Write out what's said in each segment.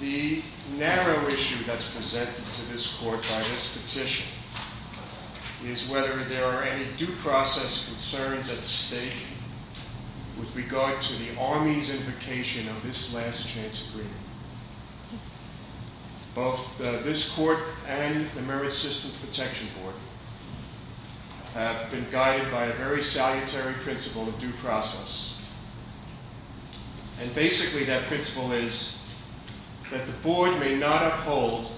The narrow issue that's presented to this court by this petition is whether there are any due process concerns at stake with regard to the Army's invocation of this last-chance agreement. Both this court and the Merit Systems Protection Board have been guided by a very salutary principle of due process and basically that principle is that the board may not uphold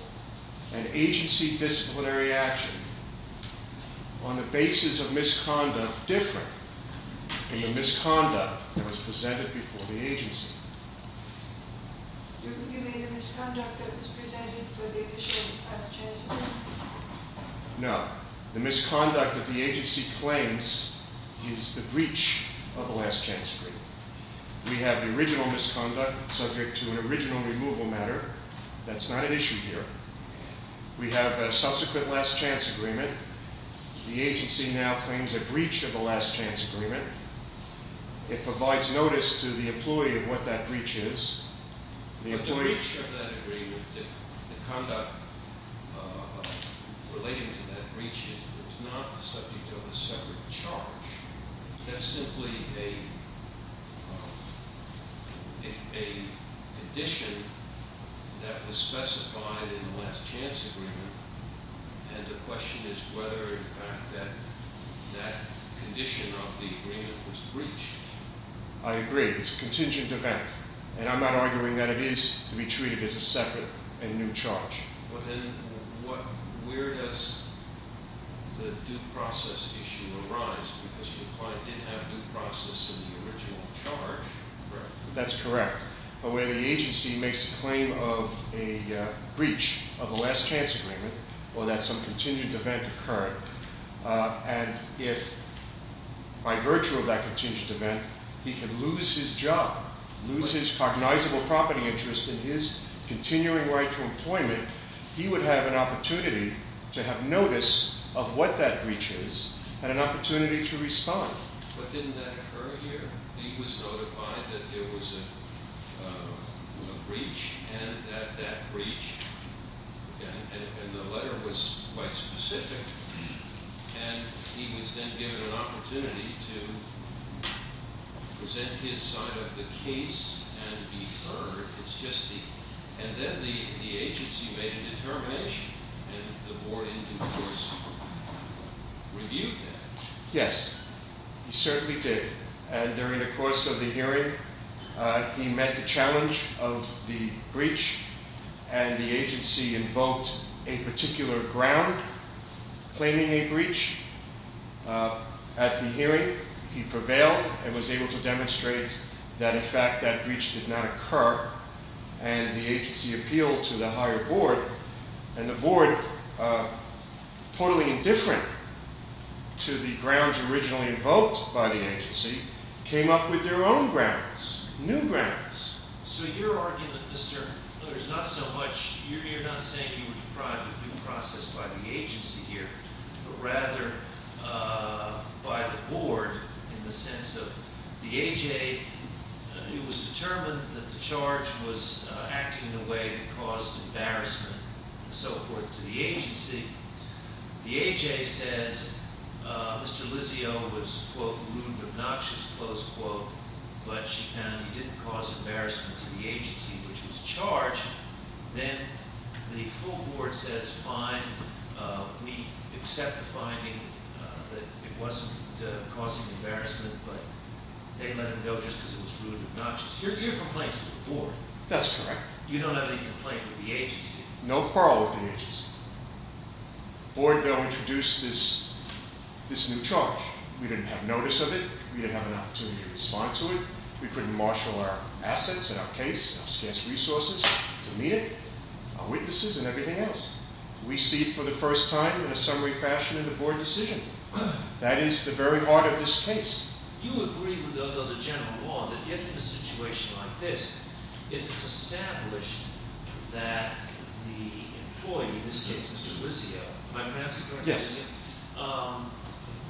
an agency disciplinary action on the basis of misconduct different than the misconduct that was presented before the agency. No, the misconduct that the agency claims is the breach of the last chance agreement. We have the original misconduct subject to an original removal matter. That's not an issue here. We have a subsequent last-chance agreement. The agency now claims a breach of the last-chance agreement. It provides notice to the employee of what that breach is. The conduct relating to that breach is not the subject of a separate charge. That's simply a condition that was specified in the last-chance agreement and the question is whether the fact that that condition of the agreement was breached. I agree. It's a contingent event and I'm not arguing that it is to be treated as a separate and new charge. But then where does the due process issue arise? Because your client did have due process in the original charge. That's correct, but where the agency makes a claim of a breach of the last-chance agreement or that some contingent event occurred and if by virtue of that contingent event he can lose his job, lose his cognizable property interest in his continuing right to employment, he would have an opportunity to have notice of what that breach is and an opportunity to respond. But didn't that occur here? He was notified that there was a breach and that that breach, and the letter was quite specific, and he was then given an opportunity to present his side of the case and be heard. And then the agency made a determination and the board in due course reviewed that. Yes, he certainly did. And during the course of the hearing, he met the challenge of the breach and the agency invoked a particular ground claiming a breach. At the hearing, he prevailed and was able to demonstrate that in fact that breach did not occur and the agency appealed to the higher board and the board, totally indifferent to the grounds originally invoked by the agency, came up with their own grounds, new grounds. So your argument, Mr. Miller, is not so much – you're not saying he was deprived of due process by the agency here, but rather by the board in the sense of the A.J. who was determined that the charge was acting in a way that caused embarrassment and so forth to the agency. The A.J. says Mr. Lizio was, quote, rude, obnoxious, close quote, but she found he didn't cause embarrassment to the agency, which was charged. Then the full board says, fine, we accept the finding that it wasn't causing embarrassment, but they let him go just because it was rude and obnoxious. Your complaint's with the board. That's correct. You don't have any complaint with the agency? No quarrel with the agency. The board, though, introduced this new charge. We didn't have notice of it. We didn't have an opportunity to respond to it. We couldn't marshal our assets and our case and our scarce resources to meet it, our witnesses and everything else. We see for the first time in a summary fashion in the board decision. That is the very heart of this case. You agree with the general law that if in a situation like this, if it's established that the employee, in this case Mr. Lizio,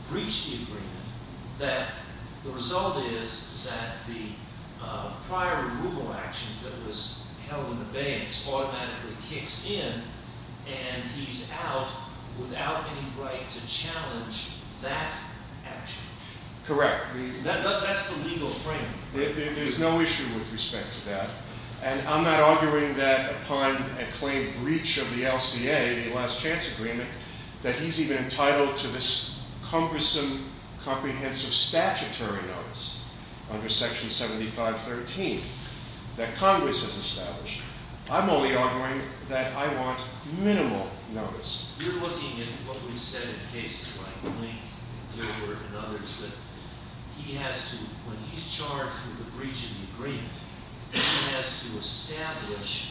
breached the agreement, that the result is that the prior removal action that was held in the banks automatically kicks in and he's out without any right to challenge that action? Correct. That's the legal frame. There's no issue with respect to that. And I'm not arguing that upon a claim breach of the LCA, the last chance agreement, that he's even entitled to this cumbersome, comprehensive statutory notice under section 7513 that Congress has established. I'm only arguing that I want minimal notice. You're looking at what we said in cases like Link and Gilbert and others that he has to, when he's charged with a breach of the agreement, he has to establish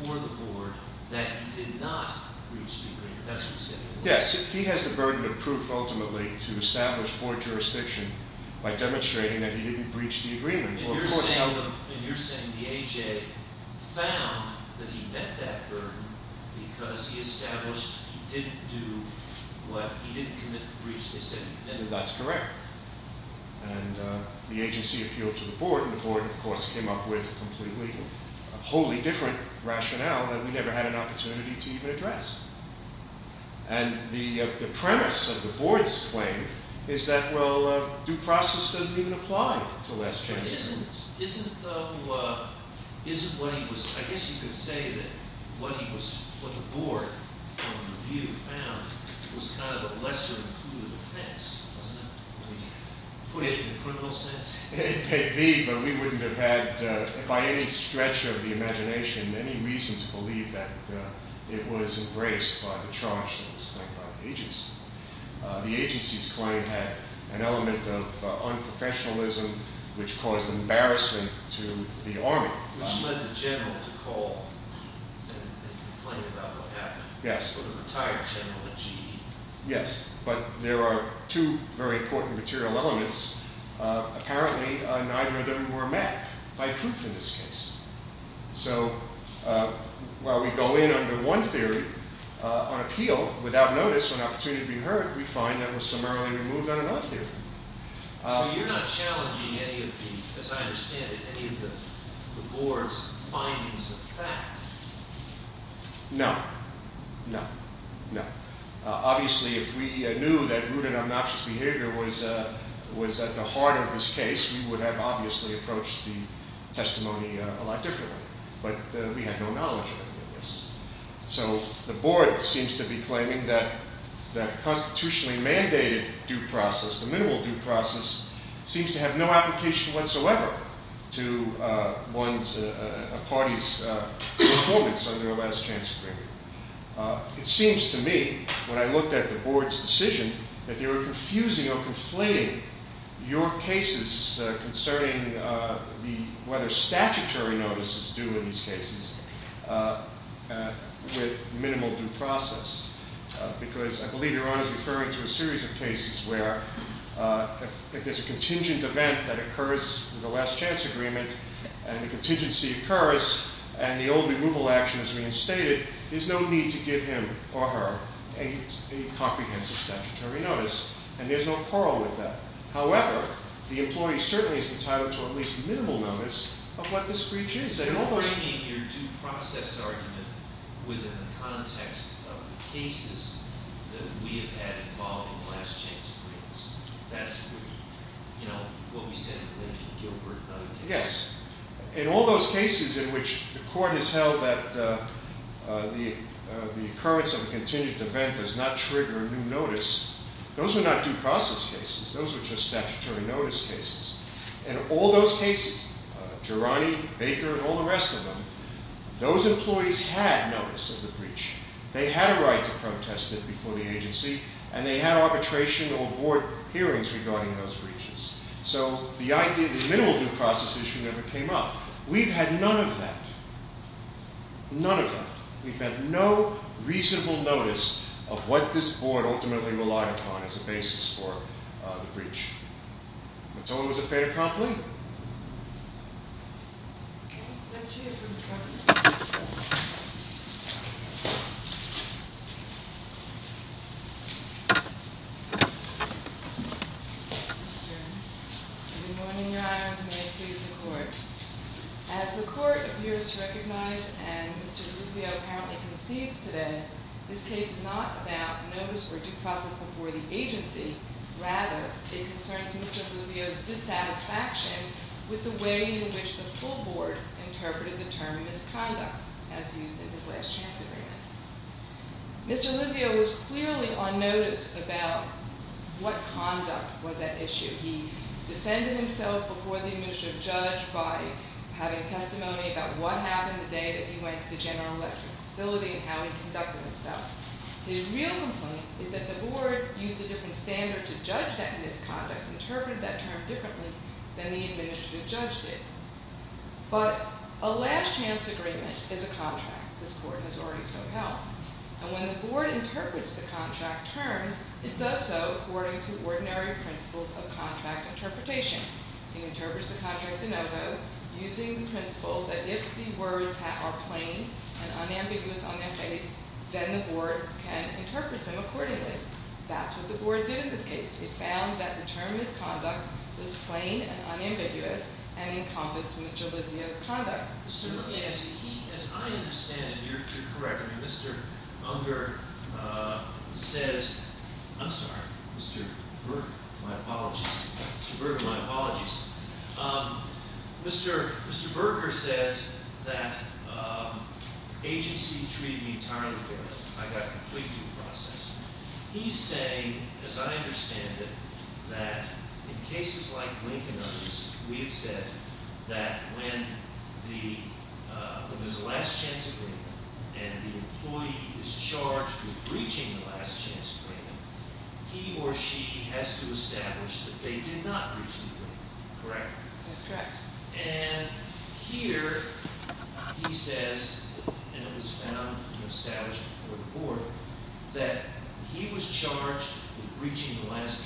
before the board that he did not breach the agreement. That's what you're saying. Yes. He has the burden of proof ultimately to establish poor jurisdiction by demonstrating that he didn't breach the agreement. And you're saying the AJ found that he met that burden because he established he didn't do what, he didn't commit the breach. That's correct. And the agency appealed to the board and the board of course came up with a completely wholly different rationale that we never had an opportunity to even address. And the premise of the board's claim is that, well, due process doesn't even apply to last chance agreements. Isn't though, isn't what he was, I guess you could say that what he was, what the board found was kind of a lesser included offense, wasn't it? Put it in a criminal sense. It may be, but we wouldn't have had by any stretch of the imagination, any reason to believe that it was embraced by the charge that was claimed by the agency. The agency's claim had an element of unprofessionalism, which caused embarrassment to the army. Which led the general to call and complain about what happened. Yes. The retired general at GE. Yes, but there are two very important material elements. Apparently, neither of them were met by proof in this case. So while we go in under one theory on appeal without notice or an opportunity to be heard, we find that was summarily removed on another theory. So you're not challenging any of the, as I understand it, any of the board's findings of fact? No, no, no. Obviously, if we knew that rude and obnoxious behavior was at the heart of this case, we would have obviously approached the testimony a lot differently. But we had no knowledge of any of this. So the board seems to be claiming that the constitutionally mandated due process, the minimal due process, seems to have no application whatsoever to a party's performance under a last chance agreement. It seems to me, when I looked at the board's decision, that they were confusing or conflating your cases concerning whether statutory notice is due in these cases with minimal due process. Because I believe Iran is referring to a series of cases where if there's a contingent event that occurs with a last chance agreement, and the contingency occurs, and the old removal action is reinstated, there's no need to give him or her a comprehensive statutory notice. And there's no quarrel with that. However, the employee certainly is entitled to at least minimal notice of what this breach is. You're bringing your due process argument within the context of the cases that we have had involving last chance agreements. That's what we said in the Lincoln-Gilbert case. Yes. In all those cases in which the court has held that the occurrence of a contingent event does not trigger new notice, those are not due process cases. Those are just statutory notice cases. In all those cases, Gerani, Baker, and all the rest of them, those employees had notice of the breach. They had a right to protest it before the agency, and they had arbitration or board hearings regarding those breaches. So the idea of the minimal due process issue never came up. We've had none of that. None of that. We've had no reasonable notice of what this board ultimately relied upon as a basis for the breach. That's all I was afraid of promptly. Let's hear from the court. Mr. Gerani. Good morning, Your Honors. May it please the court. As the court appears to recognize, and Mr. Lizzio apparently concedes today, this case is not about notice or due process before the agency. Rather, it concerns Mr. Lizzio's dissatisfaction with the way in which the full board interpreted the term misconduct, as used in this last chance agreement. Mr. Lizzio was clearly on notice about what conduct was at issue. He defended himself before the administrative judge by having testimony about what happened the day that he went to the General Electric facility and how he conducted himself. His real complaint is that the board used a different standard to judge that misconduct, interpreted that term differently than the administrative judge did. But a last chance agreement is a contract. This court has already so held. And when the board interprets the contract terms, it does so according to ordinary principles of contract interpretation. It interprets the contract de novo using the principle that if the words are plain and unambiguous on their face, then the board can interpret them accordingly. That's what the board did in this case. It found that the term misconduct was plain and unambiguous and encompassed Mr. Lizzio's conduct. Mr. Lizzio, as I understand it, you're correct. I mean, Mr. Unger says, I'm sorry, Mr. Berger, my apologies. Mr. Berger, my apologies. Mr. Berger says that agency treated me entirely fairly. I got completely in the process. He's saying, as I understand it, that in cases like Lincoln's, we have said that when there's a last chance agreement and the employee is charged with breaching the last chance agreement, he or she has to establish that they did not breach the agreement, correct? That's correct. And here he says, and it was found in the establishment before the board, that he was charged with breaching the last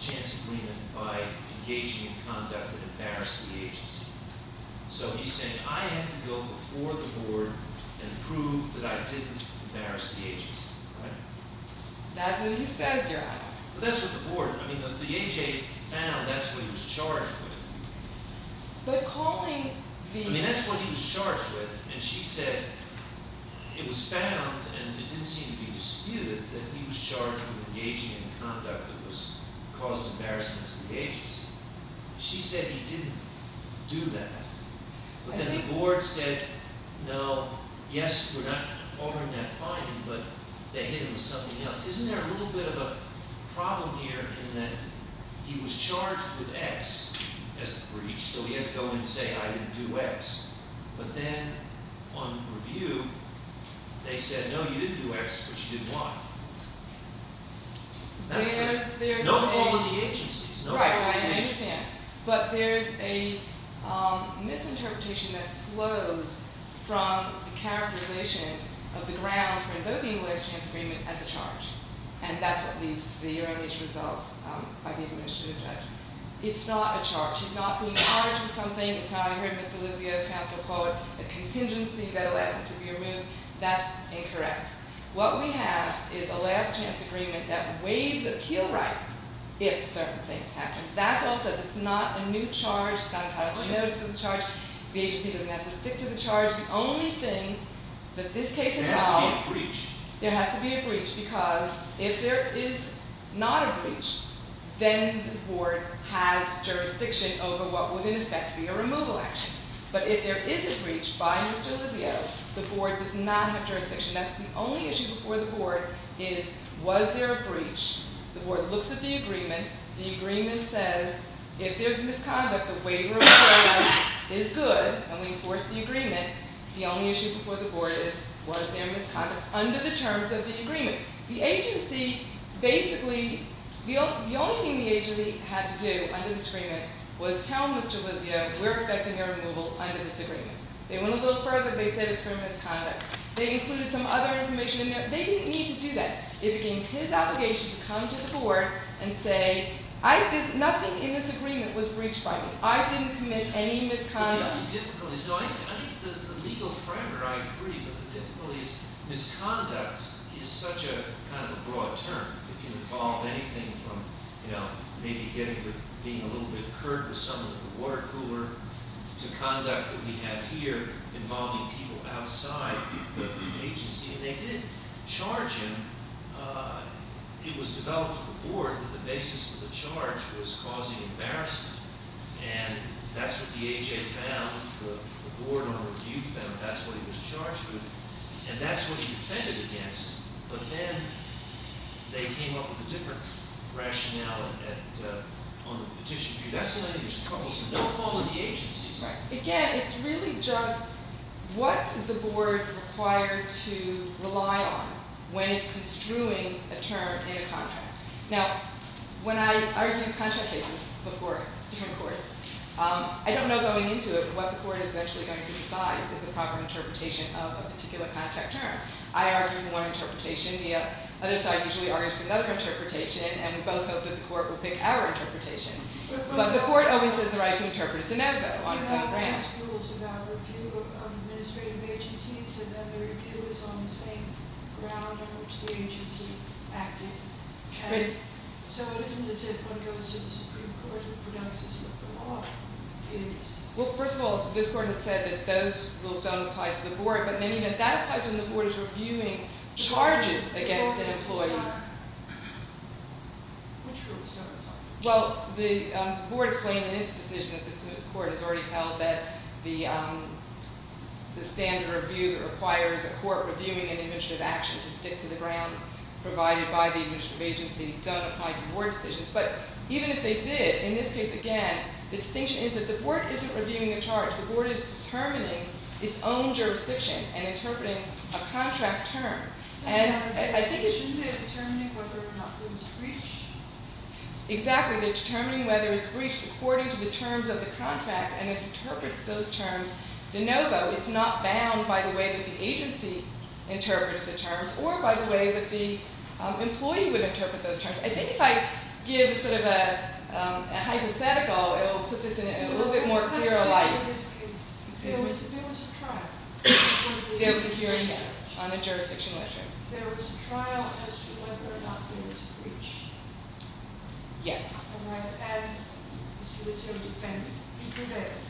chance agreement by engaging in conduct that embarrassed the agency. So he's saying, I had to go before the board and prove that I didn't embarrass the agency, right? That's what he says, Your Honor. That's what the board, I mean, the AHA found that's what he was charged with. But calling the- I mean, that's what he was charged with. And she said it was found, and it didn't seem to be disputed, that he was charged with engaging in conduct that caused embarrassment to the agency. She said he didn't do that. But then the board said, no, yes, we're not ordering that finding, but they hit him with something else. Isn't there a little bit of a problem here in that he was charged with X as the breach, so he had to go and say, I didn't do X. But then on review, they said, no, you didn't do X, but you did Y. That's the- There's- No following the agencies. Right, right. I understand. But there's a misinterpretation that flows from the characterization of the grounds for invoking the last chance agreement as a charge. And that's what leads to the ERA-MH results by the administrative judge. It's not a charge. He's not being charged with something. It's not, I heard Mr. Luzio's counsel call it a contingency that allows him to be removed. That's incorrect. What we have is a last chance agreement that waives appeal rights if certain things happen. That's all it does. It's not a new charge. It's not entirely notice of the charge. The agency doesn't have to stick to the charge. The only thing that this case involves- There has to be a breach. There has to be a breach because if there is not a breach, then the board has jurisdiction over what would in effect be a removal action. But if there is a breach by Mr. Luzio, the board does not have jurisdiction. The only issue before the board is was there a breach. The board looks at the agreement. The agreement says if there's misconduct, the waiver of appeal rights is good and we enforce the agreement. The only issue before the board is was there misconduct under the terms of the agreement. The agency basically, the only thing the agency had to do under this agreement was tell Mr. Luzio we're expecting a removal under this agreement. They went a little further. They said it's for misconduct. They included some other information in there. They didn't need to do that. It became his obligation to come to the board and say nothing in this agreement was breached by me. I didn't commit any misconduct. I think the legal framework, I agree, but the difficulty is misconduct is such a kind of a broad term. It can involve anything from maybe being a little bit curt with someone at the water cooler to conduct that we have here involving people outside the agency. And they did charge him. It was developed to the board that the basis of the charge was causing embarrassment. And that's what the AHA found. The board on review found that's what he was charged with. And that's what he defended against. But then they came up with a different rationale on the petition. That's what I think is troubling. Don't follow the agency. Again, it's really just what is the board required to rely on when it's construing a term in a contract? Now, when I argue contract cases before different courts, I don't know going into it what the court is eventually going to decide is the proper interpretation of a particular contract term. I argue for one interpretation. The other side usually argues for the other interpretation. And we both hope that the court will pick our interpretation. But the court always has the right to interpret it to no vote on its own grounds. You asked rules about review of administrative agencies. And then the review is on the same ground on which the agency acted. So it isn't as if one goes to the Supreme Court and pronounces what the law is. Well, first of all, this court has said that those rules don't apply to the board. But maybe that applies when the board is reviewing charges against an employee. Which rules don't apply? Well, the board explained in its decision that this court has already held that the standard review that requires a court reviewing an administrative action to stick to the grounds provided by the administrative agency don't apply to board decisions. But even if they did, in this case, again, the distinction is that the board isn't reviewing a charge. The board is determining its own jurisdiction and interpreting a contract term. Shouldn't they be determining whether or not it's breached? Exactly. They're determining whether it's breached according to the terms of the contract. And it interprets those terms de novo. It's not bound by the way that the agency interprets the terms or by the way that the employee would interpret those terms. I think if I give sort of a hypothetical, it will put this in a little bit more clearer light. In this case, there was a trial. There was a jury, yes, on the jurisdiction ledger. There was a trial as to whether or not there was a breach. Yes. And I've added, as to this sort of defendant, he prevailed.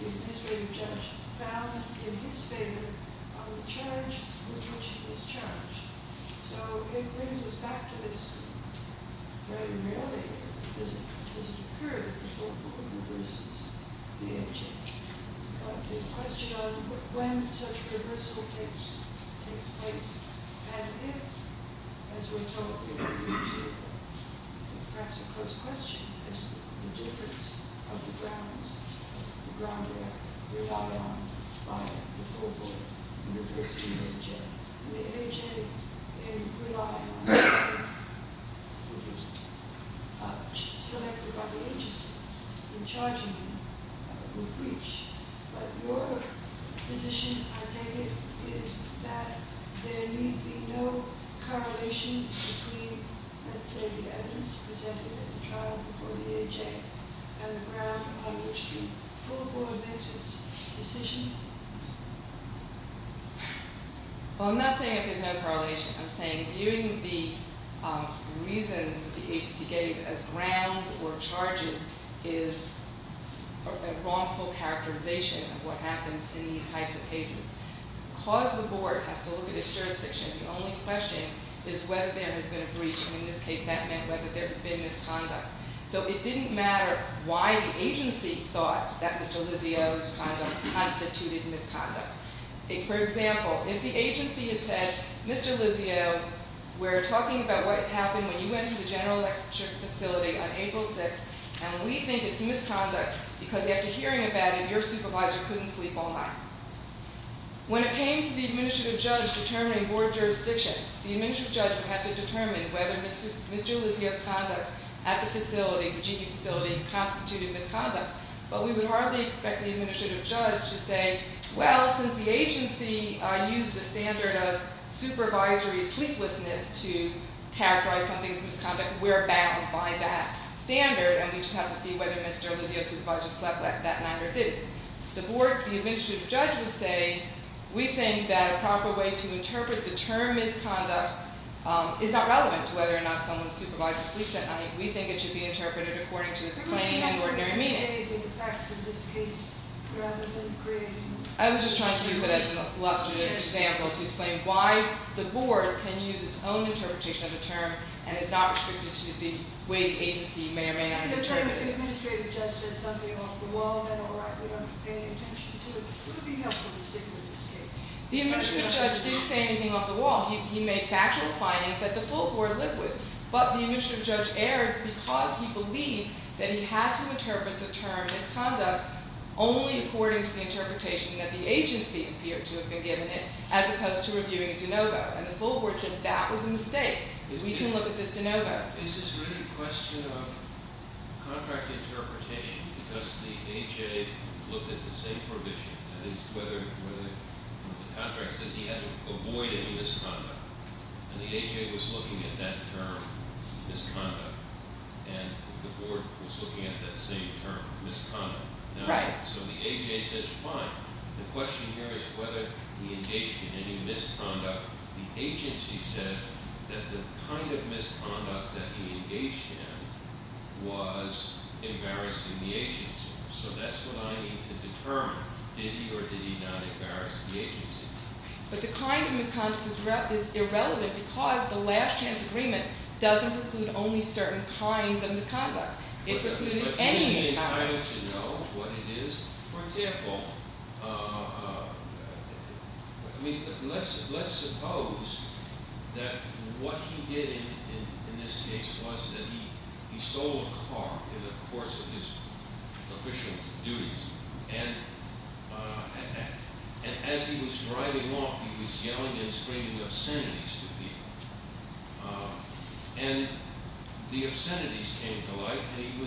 The administrative judge found in his favor on the charge, retention of this charge. So it brings us back to this very rarely. Does it occur that the full board reverses the AJ? The question on when such reversal takes place. And if, as we told you, it's perhaps a close question as to the difference of the grounds. The grounds that rely on by the full board in reversing the AJ. And rely on selected by the agency in charging him with breach. But your position, I take it, is that there need be no correlation between, let's say, the evidence presented at the trial before the AJ and the ground on which the full board makes its decision? Well, I'm not saying that there's no correlation. I'm saying viewing the reasons the agency gave as grounds or charges is a wrongful characterization of what happens in these types of cases. Because the board has to look at its jurisdiction, the only question is whether there has been a breach. And in this case, that meant whether there had been misconduct. So it didn't matter why the agency thought that Mr. Lizio's conduct constituted misconduct. For example, if the agency had said, Mr. Lizio, we're talking about what happened when you went to the general electric facility on April 6th. And we think it's misconduct because after hearing about it, your supervisor couldn't sleep all night. When it came to the administrative judge determining board jurisdiction, the administrative judge would have to determine whether Mr. Lizio's conduct at the facility, the GE facility, constituted misconduct. But we would hardly expect the administrative judge to say, well, since the agency used the standard of supervisory sleeplessness to characterize something as misconduct, we're bound by that standard, and we just have to see whether Mr. Lizio's supervisor slept that night or didn't. The board, the administrative judge would say, we think that a proper way to interpret the term misconduct is not relevant to whether or not someone's supervisor sleeps at night. We think it should be interpreted according to its plain and ordinary meaning. I was just trying to use it as an illustrative example to explain why the board can use its own interpretation of the term and is not restricted to the way the agency may or may not interpret it. If the administrative judge said something off the wall, then all right, we don't pay any attention to it. It would be helpful to stick with this case. The administrative judge didn't say anything off the wall. He made factual findings that the full board lived with. But the administrative judge erred because he believed that he had to interpret the term misconduct only according to the interpretation that the agency appeared to have been given it, as opposed to reviewing it de novo. And the full board said that was a mistake. We can look at this de novo. Yeah? Is this really a question of contract interpretation? Because the AJ looked at the same provision, whether the contract says he had to avoid any misconduct. And the AJ was looking at that term, misconduct. And the board was looking at that same term, misconduct. Right. So the AJ says, fine. The question here is whether he engaged in any misconduct. The agency says that the kind of misconduct that he engaged in was embarrassing the agency. So that's what I need to determine. Did he or did he not embarrass the agency? But the kind of misconduct is irrelevant because the last chance agreement doesn't preclude only certain kinds of misconduct. It precluded any misconduct. I don't know what it is. For example, let's suppose that what he did in this case was that he stole a car in the course of his official duties. And as he was driving off, he was yelling and screaming obscenities to people. And the obscenities came to light. And he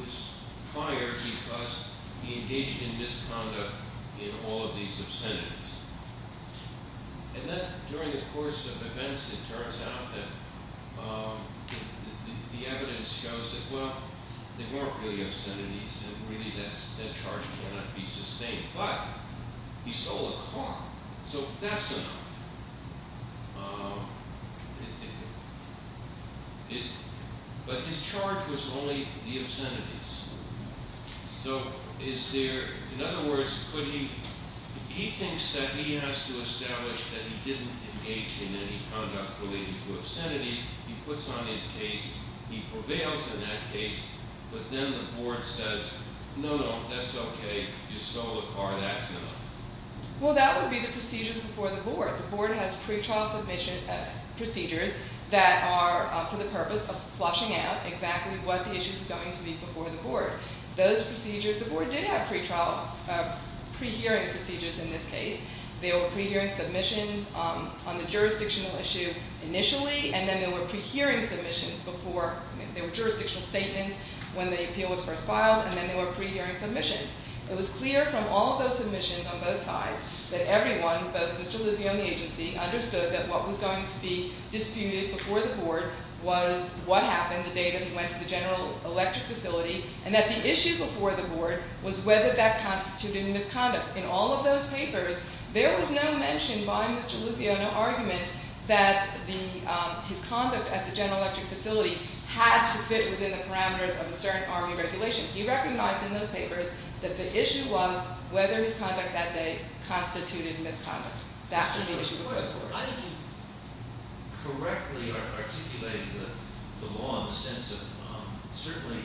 was fired because he engaged in misconduct in all of these obscenities. And then during the course of events, it turns out that the evidence shows that, well, they weren't really obscenities. And really that charge cannot be sustained. But he stole a car. So that's enough. But his charge was only the obscenities. So is there – in other words, could he – he thinks that he has to establish that he didn't engage in any conduct related to obscenities. He puts on his case. He prevails in that case. But then the board says, no, no, that's okay. You stole a car. That's enough. Well, that would be the procedures before the board. The board has pretrial procedures that are for the purpose of flushing out exactly what the issues are going to be before the board. Those procedures – the board did have pretrial – pre-hearing procedures in this case. They were pre-hearing submissions on the jurisdictional issue initially. And then there were pre-hearing submissions before – there were jurisdictional statements when the appeal was first filed. And then there were pre-hearing submissions. It was clear from all of those submissions on both sides that everyone, both Mr. Luziano and the agency, understood that what was going to be disputed before the board was what happened the day that he went to the General Electric facility and that the issue before the board was whether that constituted a misconduct. In all of those papers, there was no mention by Mr. Luziano, no argument, that the – his conduct at the General Electric facility had to fit within the parameters of a certain Army regulation. He recognized in those papers that the issue was whether his conduct that day constituted misconduct. That's the issue before the board. I think you correctly articulated the law in the sense of certainly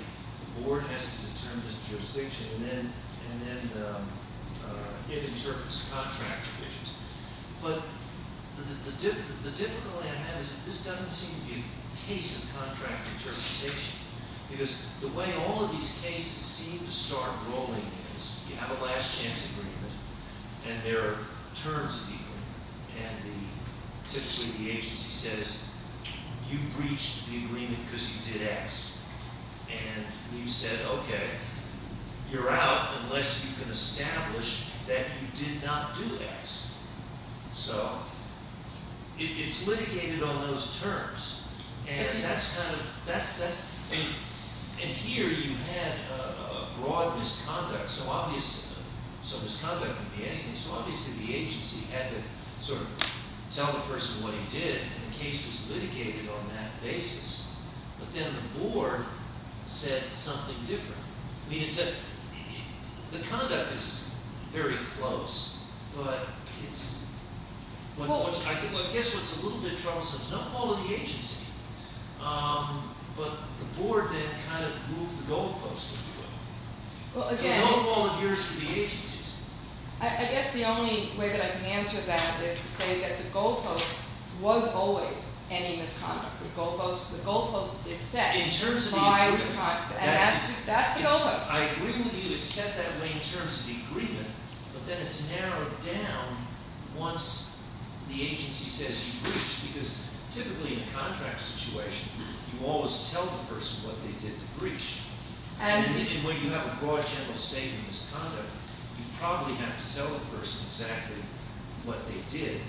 the board has to determine this jurisdiction and then it interprets contract provisions. But the difficulty I have is that this doesn't seem to be a case of contract interpretation because the way all of these cases seem to start rolling is you have a last-chance agreement and there are terms of the agreement. And typically the agency says, you breached the agreement because you did X. And you said, okay, you're out unless you can establish that you did not do X. So it's litigated on those terms. And that's kind of – that's – and here you had a broad misconduct. So obviously – so misconduct can be anything. So obviously the agency had to sort of tell the person what he did and the case was litigated on that basis. But then the board said something different. I mean, it said the conduct is very close, but it's – I guess what's a little bit troublesome is no fault of the agency. But the board then kind of moved the goalpost. Well, again – No fault of yours to the agency. I guess the only way that I can answer that is to say that the goalpost was always any misconduct. The goalpost is set by the – That's the goalpost. I agree with you. It's set that way in terms of the agreement. But then it's narrowed down once the agency says you breached because typically in a contract situation, you always tell the person what they did to breach. And when you have a broad general statement of misconduct, you probably have to tell the person exactly what they did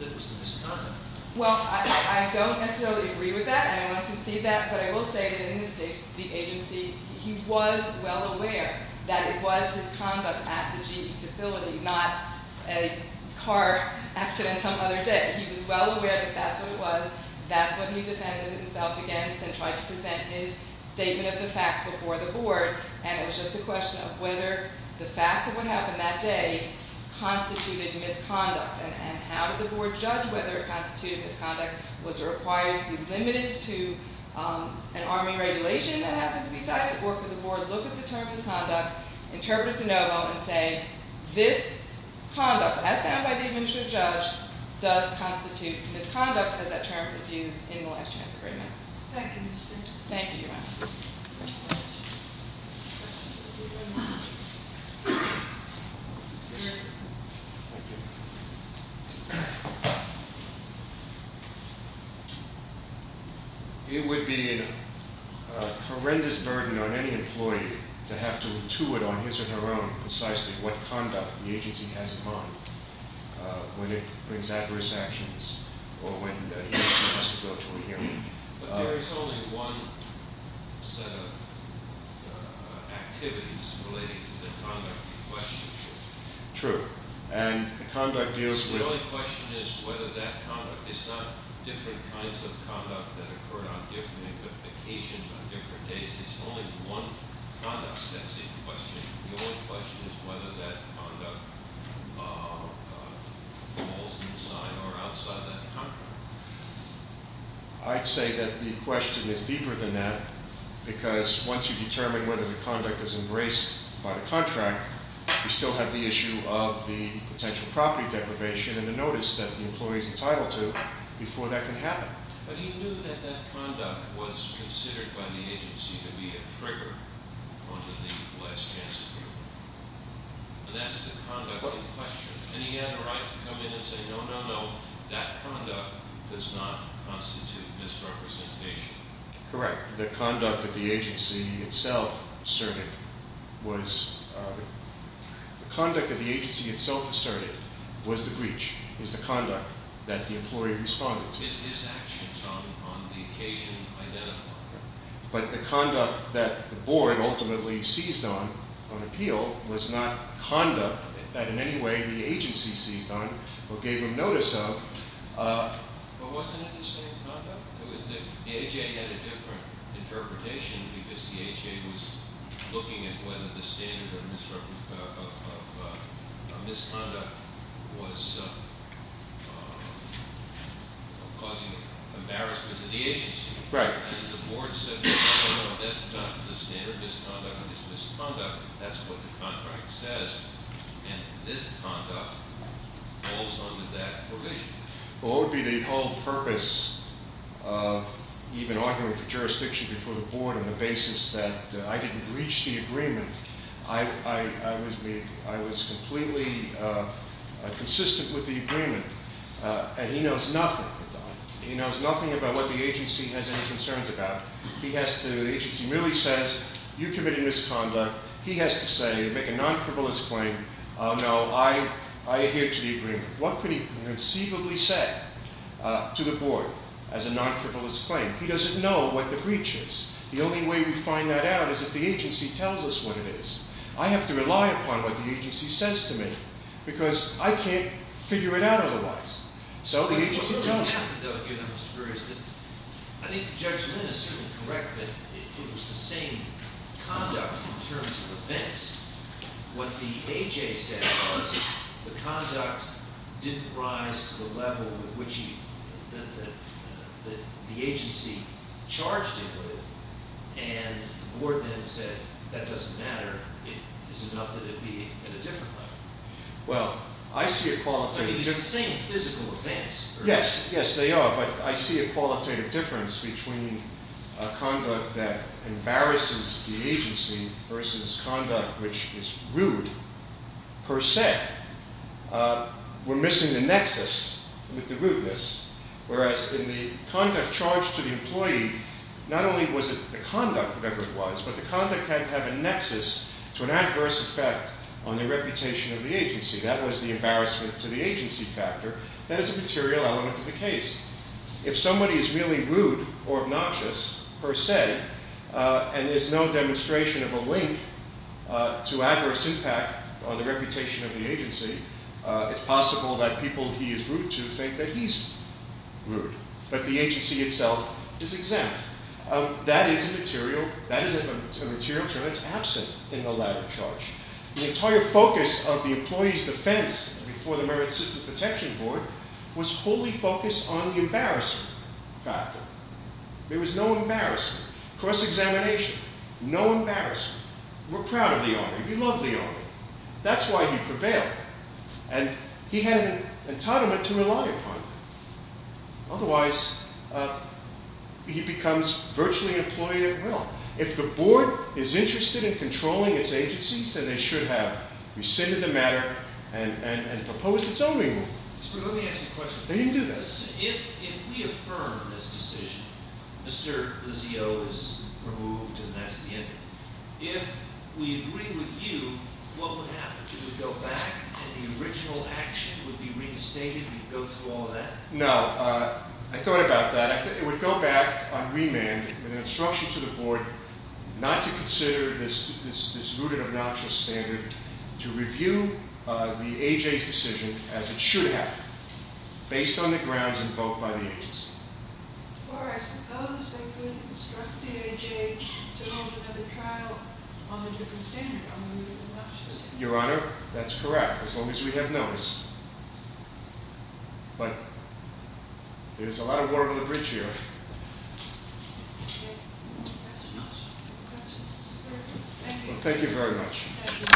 that was the misconduct. Well, I don't necessarily agree with that. I don't want to concede that, but I will say that in this case, the agency – he was well aware that it was his conduct at the GE facility, not a car accident some other day. He was well aware that that's what it was. That's what he defended himself against and tried to present his statement of the facts before the board. And it was just a question of whether the facts of what happened that day constituted misconduct. And how did the board judge whether it constituted misconduct? Was it required to be limited to an Army regulation that happened to be cited? Or could the board look at the term misconduct, interpret it to no avail, and say this conduct, as found by the administrative judge, does constitute misconduct as that term is used in the last chance agreement? Thank you, Mr. Chairman. Thank you, Your Honor. Any questions? It would be a horrendous burden on any employee to have to intuit on his or her own precisely what conduct the agency has in mind when it brings adverse actions or when he or she has to go to a hearing. But there is only one set of activities relating to the conduct you're questioning here. True. And the conduct deals with— The only question is whether that conduct—it's not different kinds of conduct that occur on different occasions on different days. It's only one conduct that's in question. The only question is whether that conduct falls inside or outside that conduct. I'd say that the question is deeper than that because once you determine whether the conduct is embraced by the contract, you still have the issue of the potential property deprivation and the notice that the employee is entitled to before that can happen. But he knew that that conduct was considered by the agency to be a trigger onto the last chance agreement. And that's the conduct in question. And he had a right to come in and say, no, no, no, that conduct does not constitute misrepresentation. Correct. The conduct that the agency itself asserted was—the conduct that the agency itself asserted was the breach. It was the conduct that the employee responded to. His actions on the occasion identified. But the conduct that the board ultimately seized on, on appeal, was not conduct that in any way the agency seized on or gave him notice of. But wasn't it the same conduct? The AHA had a different interpretation because the AHA was looking at whether the standard of misconduct was causing embarrassment to the agency. Right. And the board said, no, no, no, that's not the standard misconduct. It's misconduct. That's what the contract says. And this conduct falls under that provision. Well, what would be the whole purpose of even arguing for jurisdiction before the board on the basis that I didn't breach the agreement? I was completely consistent with the agreement. And he knows nothing. He knows nothing about what the agency has any concerns about. He has to—the agency merely says, you committed misconduct. He has to say, make a non-frivolous claim, oh, no, I adhere to the agreement. What could he conceivably say to the board as a non-frivolous claim? He doesn't know what the breach is. The only way we find that out is if the agency tells us what it is. I have to rely upon what the agency says to me because I can't figure it out otherwise. So the agency tells me. I think Judge Lin is certainly correct that it was the same conduct in terms of events. What the A.J. said was the conduct didn't rise to the level that the agency charged it with. And the board then said that doesn't matter. It's enough that it be at a different level. Well, I see a quality— I mean, it's the same physical events. Yes, yes, they are, but I see a qualitative difference between conduct that embarrasses the agency versus conduct which is rude per se. We're missing the nexus with the rudeness, whereas in the conduct charged to the employee, not only was it the conduct, whatever it was, but the conduct had to have a nexus to an adverse effect on the reputation of the agency. That was the embarrassment to the agency factor. That is a material element of the case. If somebody is really rude or obnoxious per se and there's no demonstration of a link to adverse impact on the reputation of the agency, it's possible that people he is rude to think that he's rude, but the agency itself is exempt. That is a material term that's absent in the latter charge. The entire focus of the employee's defense before the Merit System Protection Board was fully focused on the embarrassment factor. There was no embarrassment, cross-examination, no embarrassment. We're proud of the Army. We love the Army. That's why he prevailed, and he had an entitlement to rely upon it. Otherwise, he becomes virtually an employee at will. If the board is interested in controlling its agencies, then they should have rescinded the matter and proposed its own remand. Let me ask you a question. No, you can do that. If we affirm this decision, Mr. Lizio is removed and that's the end of it. If we agree with you, what would happen? Would it go back and the original action would be reinstated and you'd go through all that? No. I thought about that. It would go back on remand with an instruction to the board not to consider this rooted obnoxious standard to review the A.J.'s decision as it should have, based on the grounds invoked by the agency. Or I suppose they could instruct the A.J. to hold another trial on the different standard, on the rooted obnoxious. Your Honor, that's correct, as long as we have notice. But there's a lot of water under the bridge here. Thank you very much.